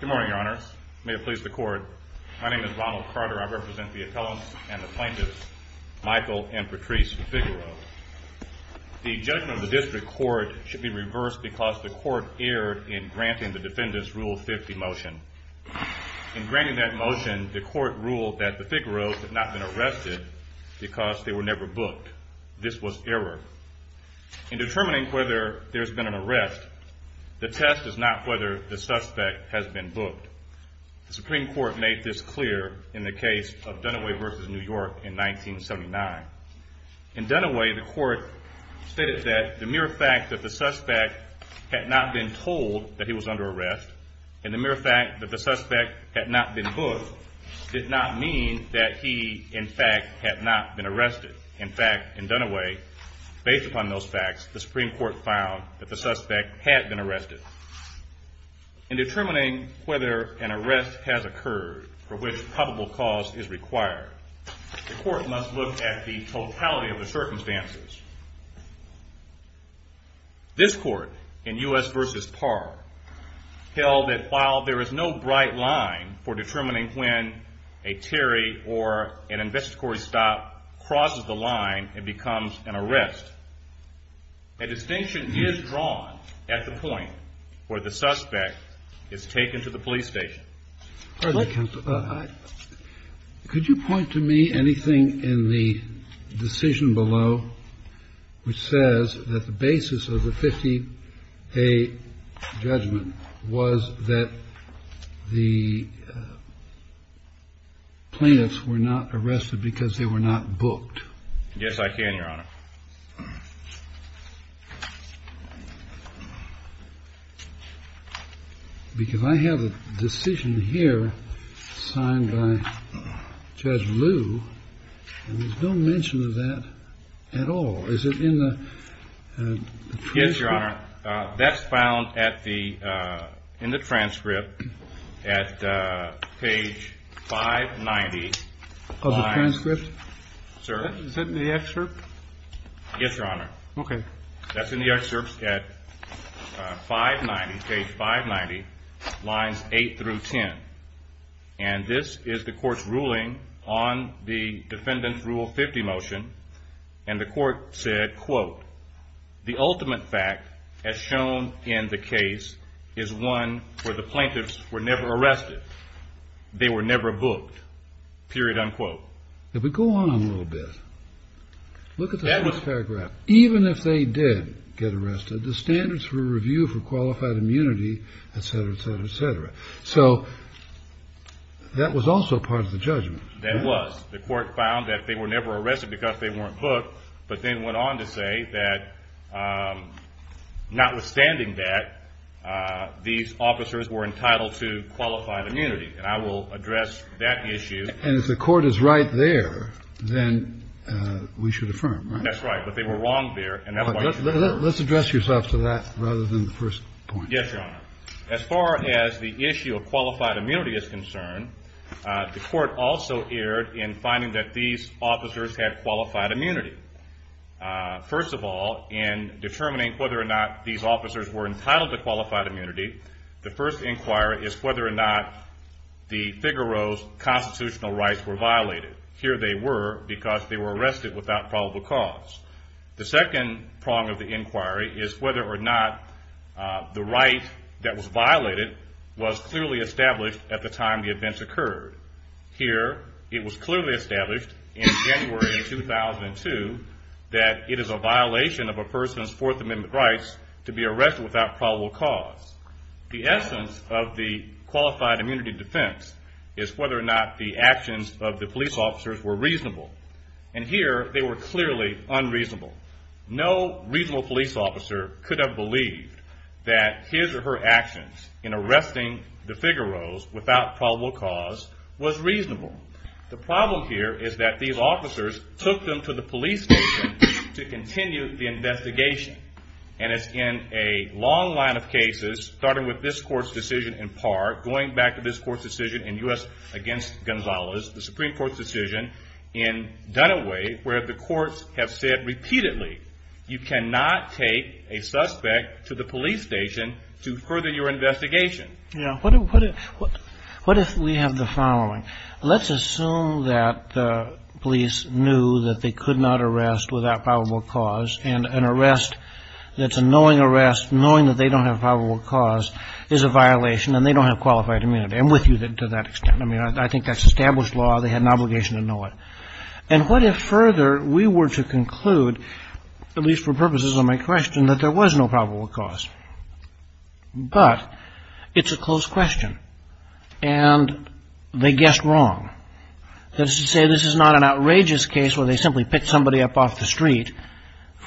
Good morning, Your Honor. May it please the court. My name is Ronald Carter. I represent the appellants and the plaintiffs, Michael and Patrice Figueroa. The judgment of the district court should be reversed because the court erred in granting the defendants' Rule 50 motion. In granting that motion, the court ruled that the Figueroas had not been arrested because they were never booked. This was error. In determining whether there has been an arrest, the test is not whether the suspect has been booked. The Supreme Court made this clear in the case of Dunaway v. New York in 1979. In Dunaway, the court stated that the mere fact that the suspect had not been told that he was under arrest, and the mere fact that the suspect had not been booked, did not mean that he, in fact, had not been arrested. In fact, in Dunaway, based upon those facts, the Supreme Court found that the suspect had been arrested. In determining whether an arrest has occurred for which probable cause is required, the court must look at the totality of the circumstances. This court, in U.S. v. Parr, held that while there is no bright line for determining when a Terry or an investigatory stop crosses the line and becomes an arrest, a distinction is drawn at the point where the suspect is taken to the police station. Kennedy. Could you point to me anything in the decision below which says that the basis of the 50-A judgment was that the plaintiffs were not arrested because they were not booked? Yes, I can, Your Honor. Because I have a decision here signed by Judge Liu, and there's no mention of that at all. Is it in the transcript? Yes, Your Honor. That's found in the transcript at page 590. Of the transcript? Sir? Is that in the excerpt? Yes, Your Honor. Okay. That's in the excerpt at 590, page 590, lines 8 through 10. And this is the court's ruling on the defendant's Rule 50 motion, and the court said, quote, the ultimate fact as shown in the case is one where the plaintiffs were never arrested. They were never booked, period, unquote. If we go on a little bit, look at the first paragraph. Even if they did get arrested, the standards for review for qualified immunity, et cetera, et cetera, et cetera. So that was also part of the judgment. That was. The court found that they were never arrested because they weren't booked, but then went on to say that notwithstanding that, these officers were entitled to qualified immunity. And I will address that issue. And if the court is right there, then we should affirm, right? That's right. But they were wrong there. Let's address yourself to that rather than the first point. Yes, Your Honor. As far as the issue of qualified immunity is concerned, the court also erred in finding that these officers had qualified immunity. First of all, in determining whether or not these officers were entitled to qualified immunity, the first inquiry is whether or not the Figueroa's constitutional rights were violated. Here they were because they were arrested without probable cause. The second prong of the inquiry is whether or not the right that was violated was clearly established at the time the events occurred. Here it was clearly established in January of 2002 that it is a violation of a person's Fourth Amendment rights to be arrested without probable cause. The essence of the qualified immunity defense is whether or not the actions of the police officers were reasonable. And here they were clearly unreasonable. No reasonable police officer could have believed that his or her actions in arresting the Figueroa's without probable cause was reasonable. The problem here is that these officers took them to the police station to continue the investigation. And it's in a long line of cases, starting with this court's decision in part, going back to this court's decision in U.S. against Gonzalez, the Supreme Court's decision in Dunaway, where the courts have said repeatedly, you cannot take a suspect to the police station to further your investigation. What if we have the following? Let's assume that the police knew that they could not arrest without probable cause and an arrest that's a knowing arrest, knowing that they don't have probable cause, is a violation and they don't have qualified immunity. I'm with you to that extent. I mean, I think that's established law. They had an obligation to know it. And what if further we were to conclude, at least for purposes of my question, that there was no probable cause, but it's a close question. And they guessed wrong. That is to say, this is not an outrageous case where they simply picked somebody up off the street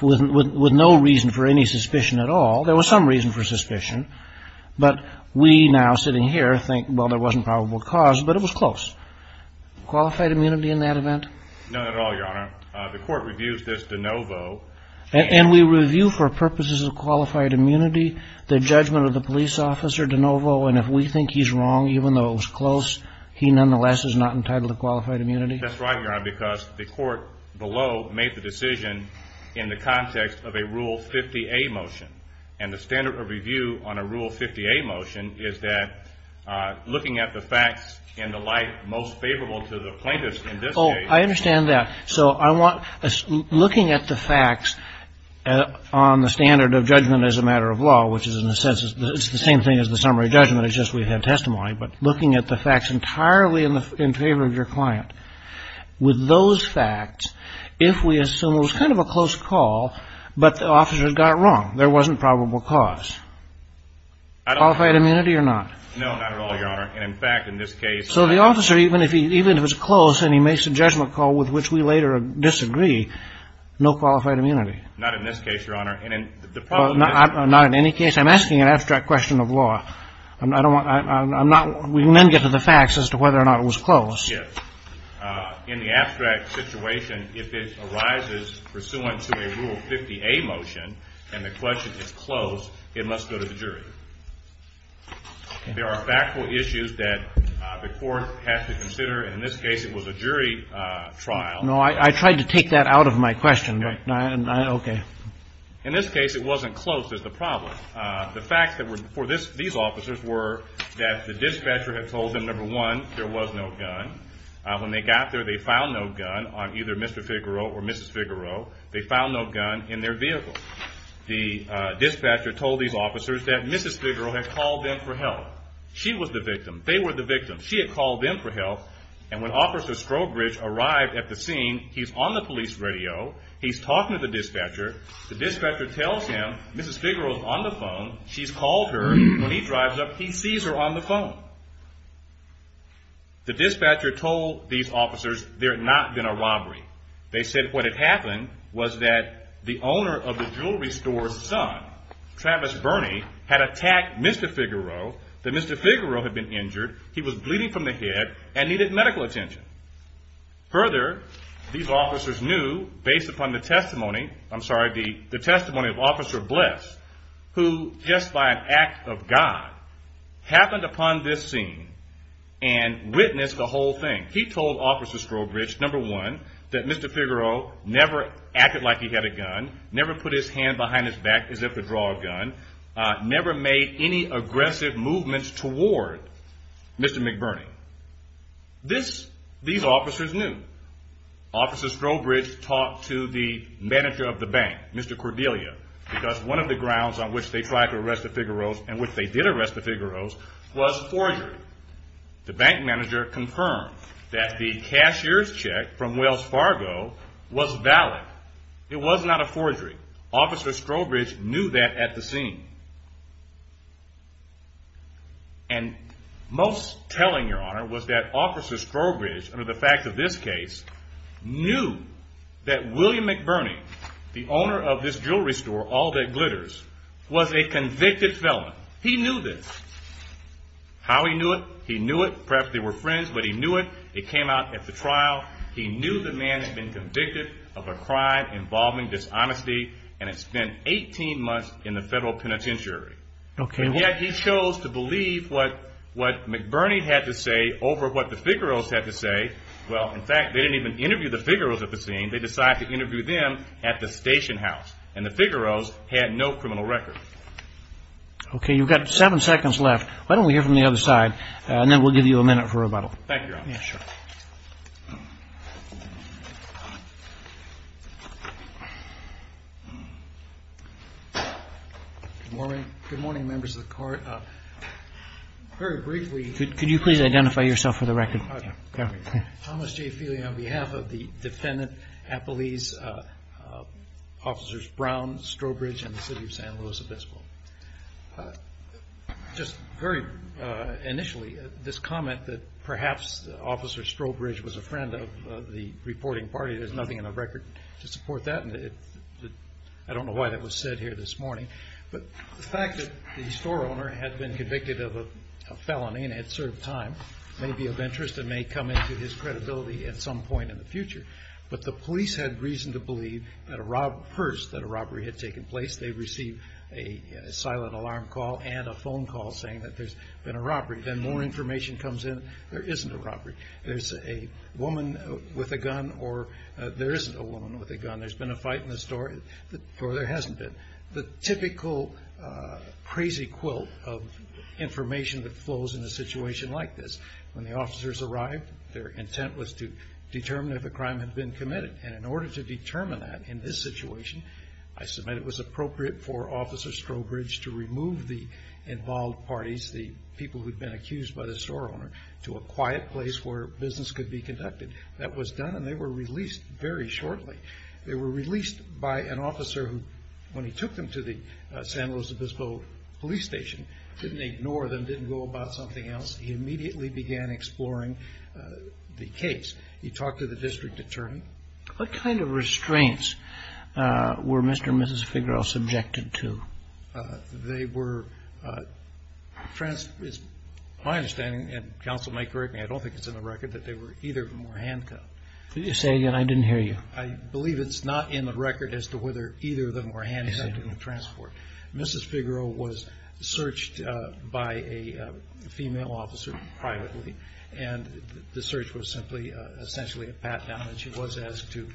with no reason for any suspicion at all. There was some reason for suspicion. But we now sitting here think, well, there wasn't probable cause, but it was close. Qualified immunity in that event? No, not at all, Your Honor. The court reviews this de novo. And we review for purposes of qualified immunity the judgment of the police officer de novo, and if we think he's wrong, even though it was close, he nonetheless is not entitled to qualified immunity? That's right, Your Honor, because the court below made the decision in the context of a Rule 50A motion. And the standard of review on a Rule 50A motion is that looking at the facts in the light most favorable to the plaintiffs in this case. Oh, I understand that. So I want looking at the facts on the standard of judgment as a matter of law, which is in a sense it's the same thing as the summary judgment. It's just we have testimony. But looking at the facts entirely in favor of your client, with those facts, if we assume it was kind of a close call, but the officer got wrong, there wasn't probable cause. Qualified immunity or not? No, not at all, Your Honor. And, in fact, in this case. So the officer, even if it's close and he makes a judgment call with which we later disagree, no qualified immunity? Not in this case, Your Honor. And in the problem is. Not in any case. I'm asking an abstract question of law. I don't want. I'm not. We can then get to the facts as to whether or not it was close. Yes. In the abstract situation, if it arises pursuant to a Rule 50A motion and the question is close, it must go to the jury. There are factual issues that the court has to consider. In this case, it was a jury trial. No, I tried to take that out of my question. Okay. In this case, it wasn't close is the problem. The facts for these officers were that the dispatcher had told them, number one, there was no gun. When they got there, they found no gun on either Mr. Figueroa or Mrs. Figueroa. They found no gun in their vehicle. The dispatcher told these officers that Mrs. Figueroa had called them for help. She was the victim. They were the victim. She had called them for help. And when Officer Strobridge arrived at the scene, he's on the police radio. He's talking to the dispatcher. The dispatcher tells him Mrs. Figueroa is on the phone. She's called her. When he drives up, he sees her on the phone. The dispatcher told these officers there had not been a robbery. They said what had happened was that the owner of the jewelry store's son, Travis Burney, had attacked Mr. Figueroa, that Mr. Figueroa had been injured. He was bleeding from the head and needed medical attention. Further, these officers knew, based upon the testimony of Officer Bless, who just by an act of God happened upon this scene and witnessed the whole thing. He told Officer Strobridge, number one, that Mr. Figueroa never acted like he had a gun, never put his hand behind his back as if to draw a gun, never made any aggressive movements toward Mr. McBurney. These officers knew. Officer Strobridge talked to the manager of the bank, Mr. Cordelia, because one of the grounds on which they tried to arrest the Figueroas and which they did arrest the Figueroas was forgery. The bank manager confirmed that the cashier's check from Wells Fargo was valid. It was not a forgery. Officer Strobridge knew that at the scene. And most telling, Your Honor, was that Officer Strobridge, under the fact of this case, knew that William McBurney, the owner of this jewelry store, All That Glitters, was a convicted felon. He knew this. How he knew it? He knew it. Perhaps they were friends, but he knew it. It came out at the trial. He knew the man had been convicted of a crime involving dishonesty and had spent 18 months in the federal penitentiary. And yet he chose to believe what McBurney had to say over what the Figueroas had to say. Well, in fact, they didn't even interview the Figueroas at the scene. They decided to interview them at the station house. And the Figueroas had no criminal record. Okay. You've got seven seconds left. Why don't we hear from the other side, and then we'll give you a minute for rebuttal. Thank you, Your Honor. Sure. Good morning. Good morning, members of the Court. Very briefly. Could you please identify yourself for the record? Thomas J. Feeley on behalf of the defendant, Appalese, Officers Brown, Strowbridge, and the city of San Luis Obispo. Just very initially, this comment that perhaps Officer Strowbridge was a friend of the reporting party, there's nothing in the record to support that. I don't know why that was said here this morning. But the fact that the store owner had been convicted of a felony and had served time may be of interest and may come into his credibility at some point in the future. But the police had reason to believe at first that a robbery had taken place. They received a silent alarm call and a phone call saying that there's been a robbery. Then more information comes in, there isn't a robbery. There's a woman with a gun or there isn't a woman with a gun. There's been a fight in the store or there hasn't been. The typical crazy quilt of information that flows in a situation like this. When the officers arrived, their intent was to determine if a crime had been committed. And in order to determine that in this situation, I submit it was appropriate for Officer Strowbridge to remove the involved parties, the people who had been accused by the store owner, to a quiet place where business could be conducted. That was done and they were released very shortly. They were released by an officer who, when he took them to the San Luis Obispo police station, didn't ignore them, didn't go about something else. He immediately began exploring the case. He talked to the district attorney. What kind of restraints were Mr. and Mrs. Figueroa subjected to? They were, my understanding, and counsel may correct me, I don't think it's in the record that they were either of them handcuffed. Could you say again? I didn't hear you. I believe it's not in the record as to whether either of them were handcuffed in the transport. Mrs. Figueroa was searched by a female officer privately and the search was simply essentially a pat-down and she was asked to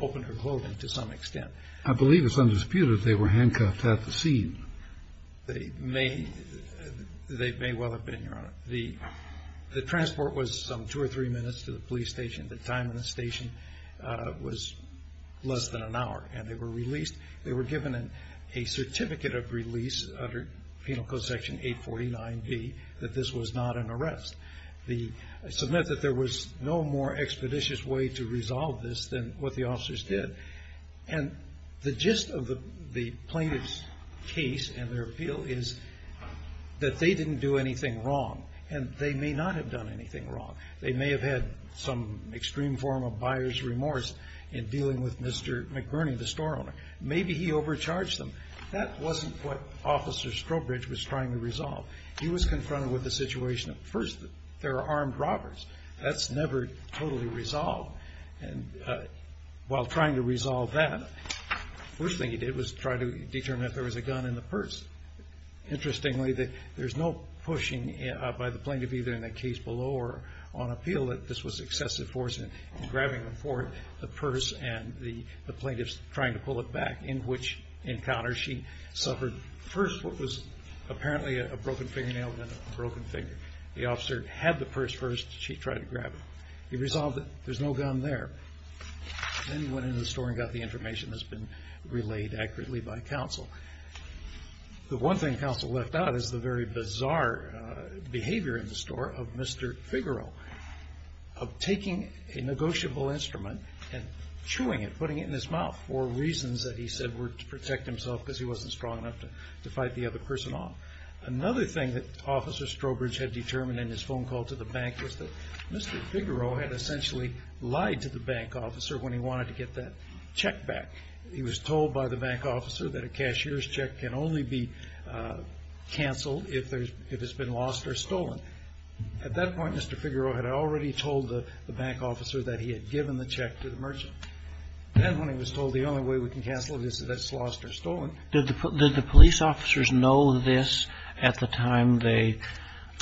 open her clothing to some extent. I believe it's undisputed they were handcuffed at the scene. They may well have been, Your Honor. The transport was some two or three minutes to the police station. The time in the station was less than an hour and they were released. They were given a certificate of release under Penal Code Section 849B that this was not an arrest. They submitted that there was no more expeditious way to resolve this than what the officers did and the gist of the plaintiff's case and their appeal is that they didn't do anything wrong and they may not have done anything wrong. They may have had some extreme form of buyer's remorse in dealing with Mr. McBurney, the store owner. Maybe he overcharged them. That wasn't what Officer Strobridge was trying to resolve. He was confronted with the situation at first that there are armed robbers. That's never totally resolved and while trying to resolve that, the first thing he did was try to determine if there was a gun in the purse. Interestingly, there's no pushing by the plaintiff either in the case below or on appeal that this was excessive force in grabbing the purse and the plaintiff's trying to pull it back in which encounter she suffered first what was apparently a broken fingernail and then a broken finger. The officer had the purse first. She tried to grab it. He resolved that there's no gun there. Then he went into the store and got the information that's been relayed accurately by counsel. The one thing counsel left out is the very bizarre behavior in the store of Mr. Figaro of taking a negotiable instrument and chewing it, putting it in his mouth for reasons that he said were to protect himself because he wasn't strong enough to fight the other person off. Another thing that Officer Strobridge had determined in his phone call to the bank was that Mr. Figaro had essentially lied to the bank officer when he wanted to get that check back. He was told by the bank officer that a cashier's check can only be canceled if it's been lost or stolen. At that point, Mr. Figaro had already told the bank officer that he had given the check to the merchant. Then when he was told the only way we can cancel it is if it's lost or stolen. Did the police officers know this at the time they,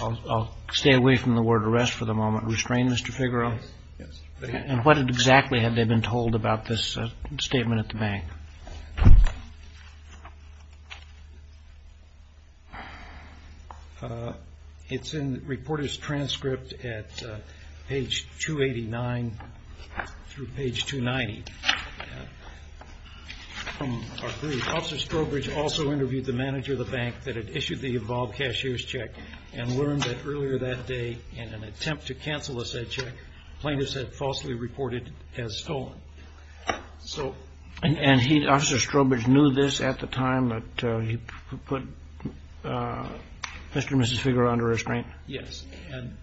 I'll stay away from the word arrest for the moment, restrain Mr. Figaro? Yes. And what exactly had they been told about this statement at the bank? It's in the reporter's transcript at page 289 through page 290. From our brief, Officer Strobridge also interviewed the manager of the bank that had issued the involved cashier's check and learned that earlier that day in an attempt to cancel a said check, plaintiffs had falsely reported as stolen. And Officer Strobridge knew this at the time that he put Mr. and Mrs. Figaro under restraint? Yes. And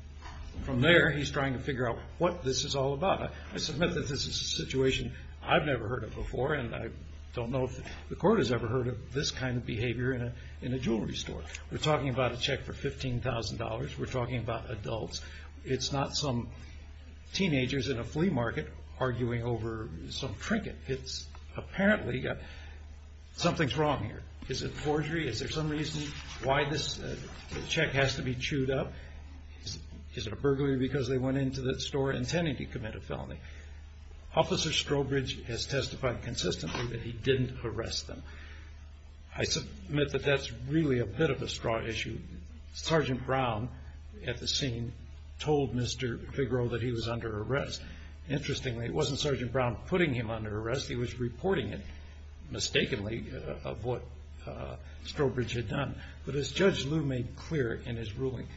from there, he's trying to figure out what this is all about. I submit that this is a situation I've never heard of before. And I don't know if the court has ever heard of this kind of behavior in a jewelry store. We're talking about a check for $15,000. We're talking about adults. It's not some teenagers in a flea market arguing over some trinket. It's apparently something's wrong here. Is it forgery? Is there some reason why this check has to be chewed up? Is it a burglary because they went into the store intending to commit a felony? Officer Strobridge has testified consistently that he didn't arrest them. I submit that that's really a pit of a straw issue. Sergeant Brown at the scene told Mr. Figaro that he was under arrest. Interestingly, it wasn't Sergeant Brown putting him under arrest. He was reporting it mistakenly of what Strobridge had done. But as Judge Liu made clear in his ruling,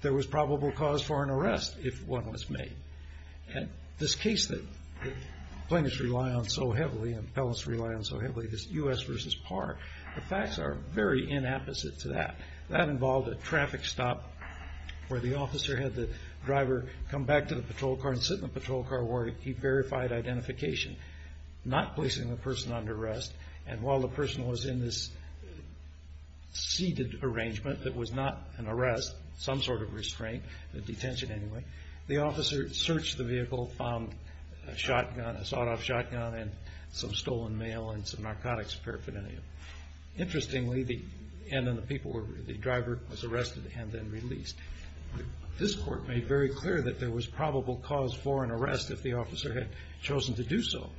there was probable cause for an arrest if one was made. This case that plaintiffs rely on so heavily and felons rely on so heavily, this U.S. v. Parr, the facts are very inapposite to that. That involved a traffic stop where the officer had the driver come back to the patrol car and sit in the patrol car where he verified identification, not placing the person under arrest. And while the person was in this seated arrangement that was not an arrest, some sort of restraint, a detention anyway, the officer searched the vehicle, found a shot off shotgun and some stolen mail and some narcotics paraphernalia. Interestingly, the driver was arrested and then released. This court made very clear that there was probable cause for an arrest if the officer had chosen to do so.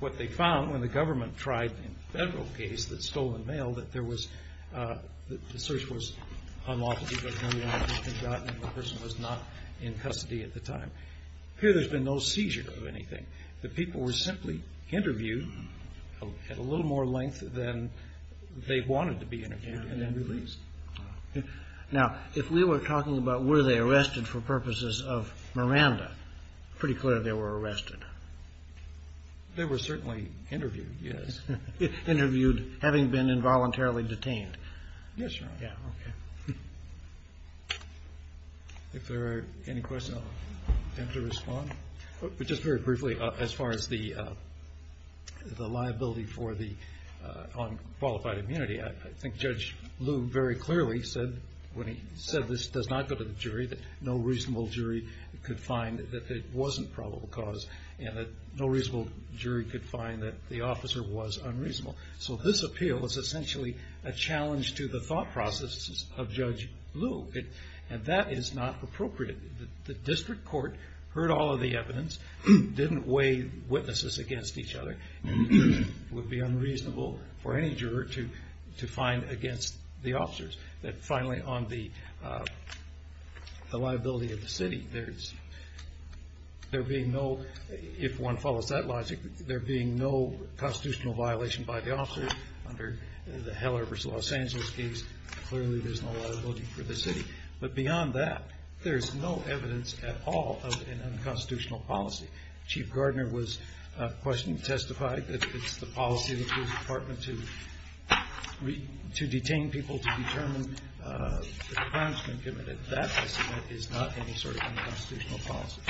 What they found when the government tried in the federal case the stolen mail, that the search was unlawful because no narcotics had been gotten and the person was not in custody at the time. Here there's been no seizure of anything. The people were simply interviewed at a little more length than they wanted to be interviewed and then released. Now if we were talking about were they arrested for purposes of Miranda, it's pretty clear they were arrested. They were certainly interviewed, yes. Interviewed having been involuntarily detained. Yes, Your Honor. If there are any questions, I'll attempt to respond. Just very briefly as far as the liability for the unqualified immunity, I think Judge Liu very clearly said when he said this does not go to the jury that no reasonable jury could find that it wasn't probable cause and that no reasonable jury could find that the officer was unreasonable. So this appeal is essentially a challenge to the thought processes of Judge Liu, and that is not appropriate. The district court heard all of the evidence, didn't weigh witnesses against each other, and it would be unreasonable for any juror to find against the officers. Finally, on the liability of the city, there being no, if one follows that logic, there being no constitutional violation by the officers under the Heller v. Los Angeles case, clearly there's no liability for the city. But beyond that, there's no evidence at all of an unconstitutional policy. Chief Gardner testified that it's the policy of the police department to detain people to determine the crimes committed. That, I submit, is not any sort of unconstitutional policy.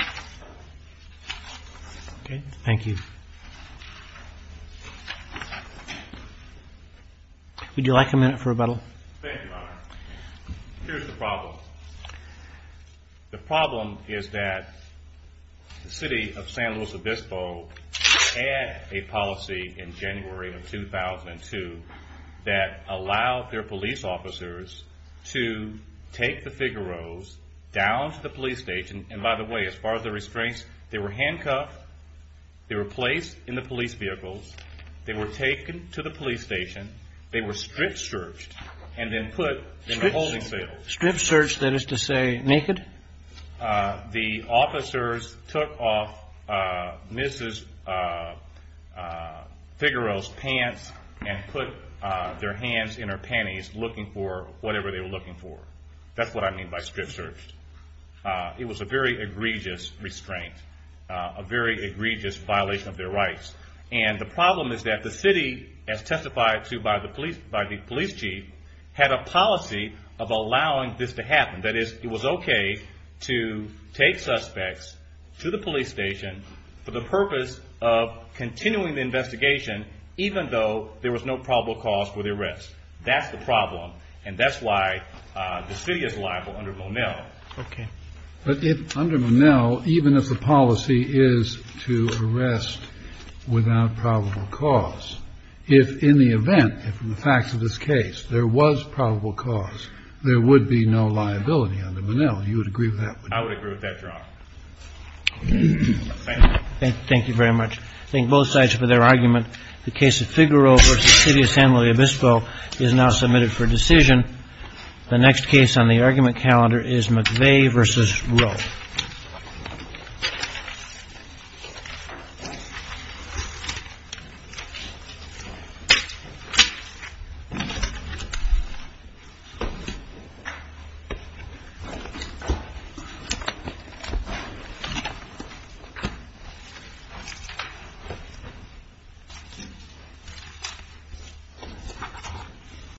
Okay? Thank you. Would you like a minute for rebuttal? Thank you, Your Honor. Here's the problem. The problem is that the city of San Luis Obispo had a policy in January of 2002 that allowed their police officers to take the figaroes down to the police station, and by the way, as far as the restraints, they were handcuffed, they were placed in the police vehicles, they were taken to the police station, they were strip-searched and then put in the holding cells. Strip-searched, that is to say, naked? The officers took off Mrs. Figaro's pants and put their hands in her panties looking for whatever they were looking for. That's what I mean by strip-searched. It was a very egregious restraint, a very egregious violation of their rights. And the problem is that the city, as testified to by the police chief, had a policy of allowing this to happen. That is, it was okay to take suspects to the police station for the purpose of continuing the investigation even though there was no probable cause for the arrest. That's the problem, and that's why the city is liable under Monell. Okay. But if under Monell, even if the policy is to arrest without probable cause, if in the event, if in the facts of this case there was probable cause, there would be no liability under Monell. You would agree with that? I would agree with that, Your Honor. Thank you. Thank you very much. Thank both sides for their argument. The case of Figaro v. City of San Luis Obispo is now submitted for decision. The next case on the argument calendar is McVeigh v. Rowe.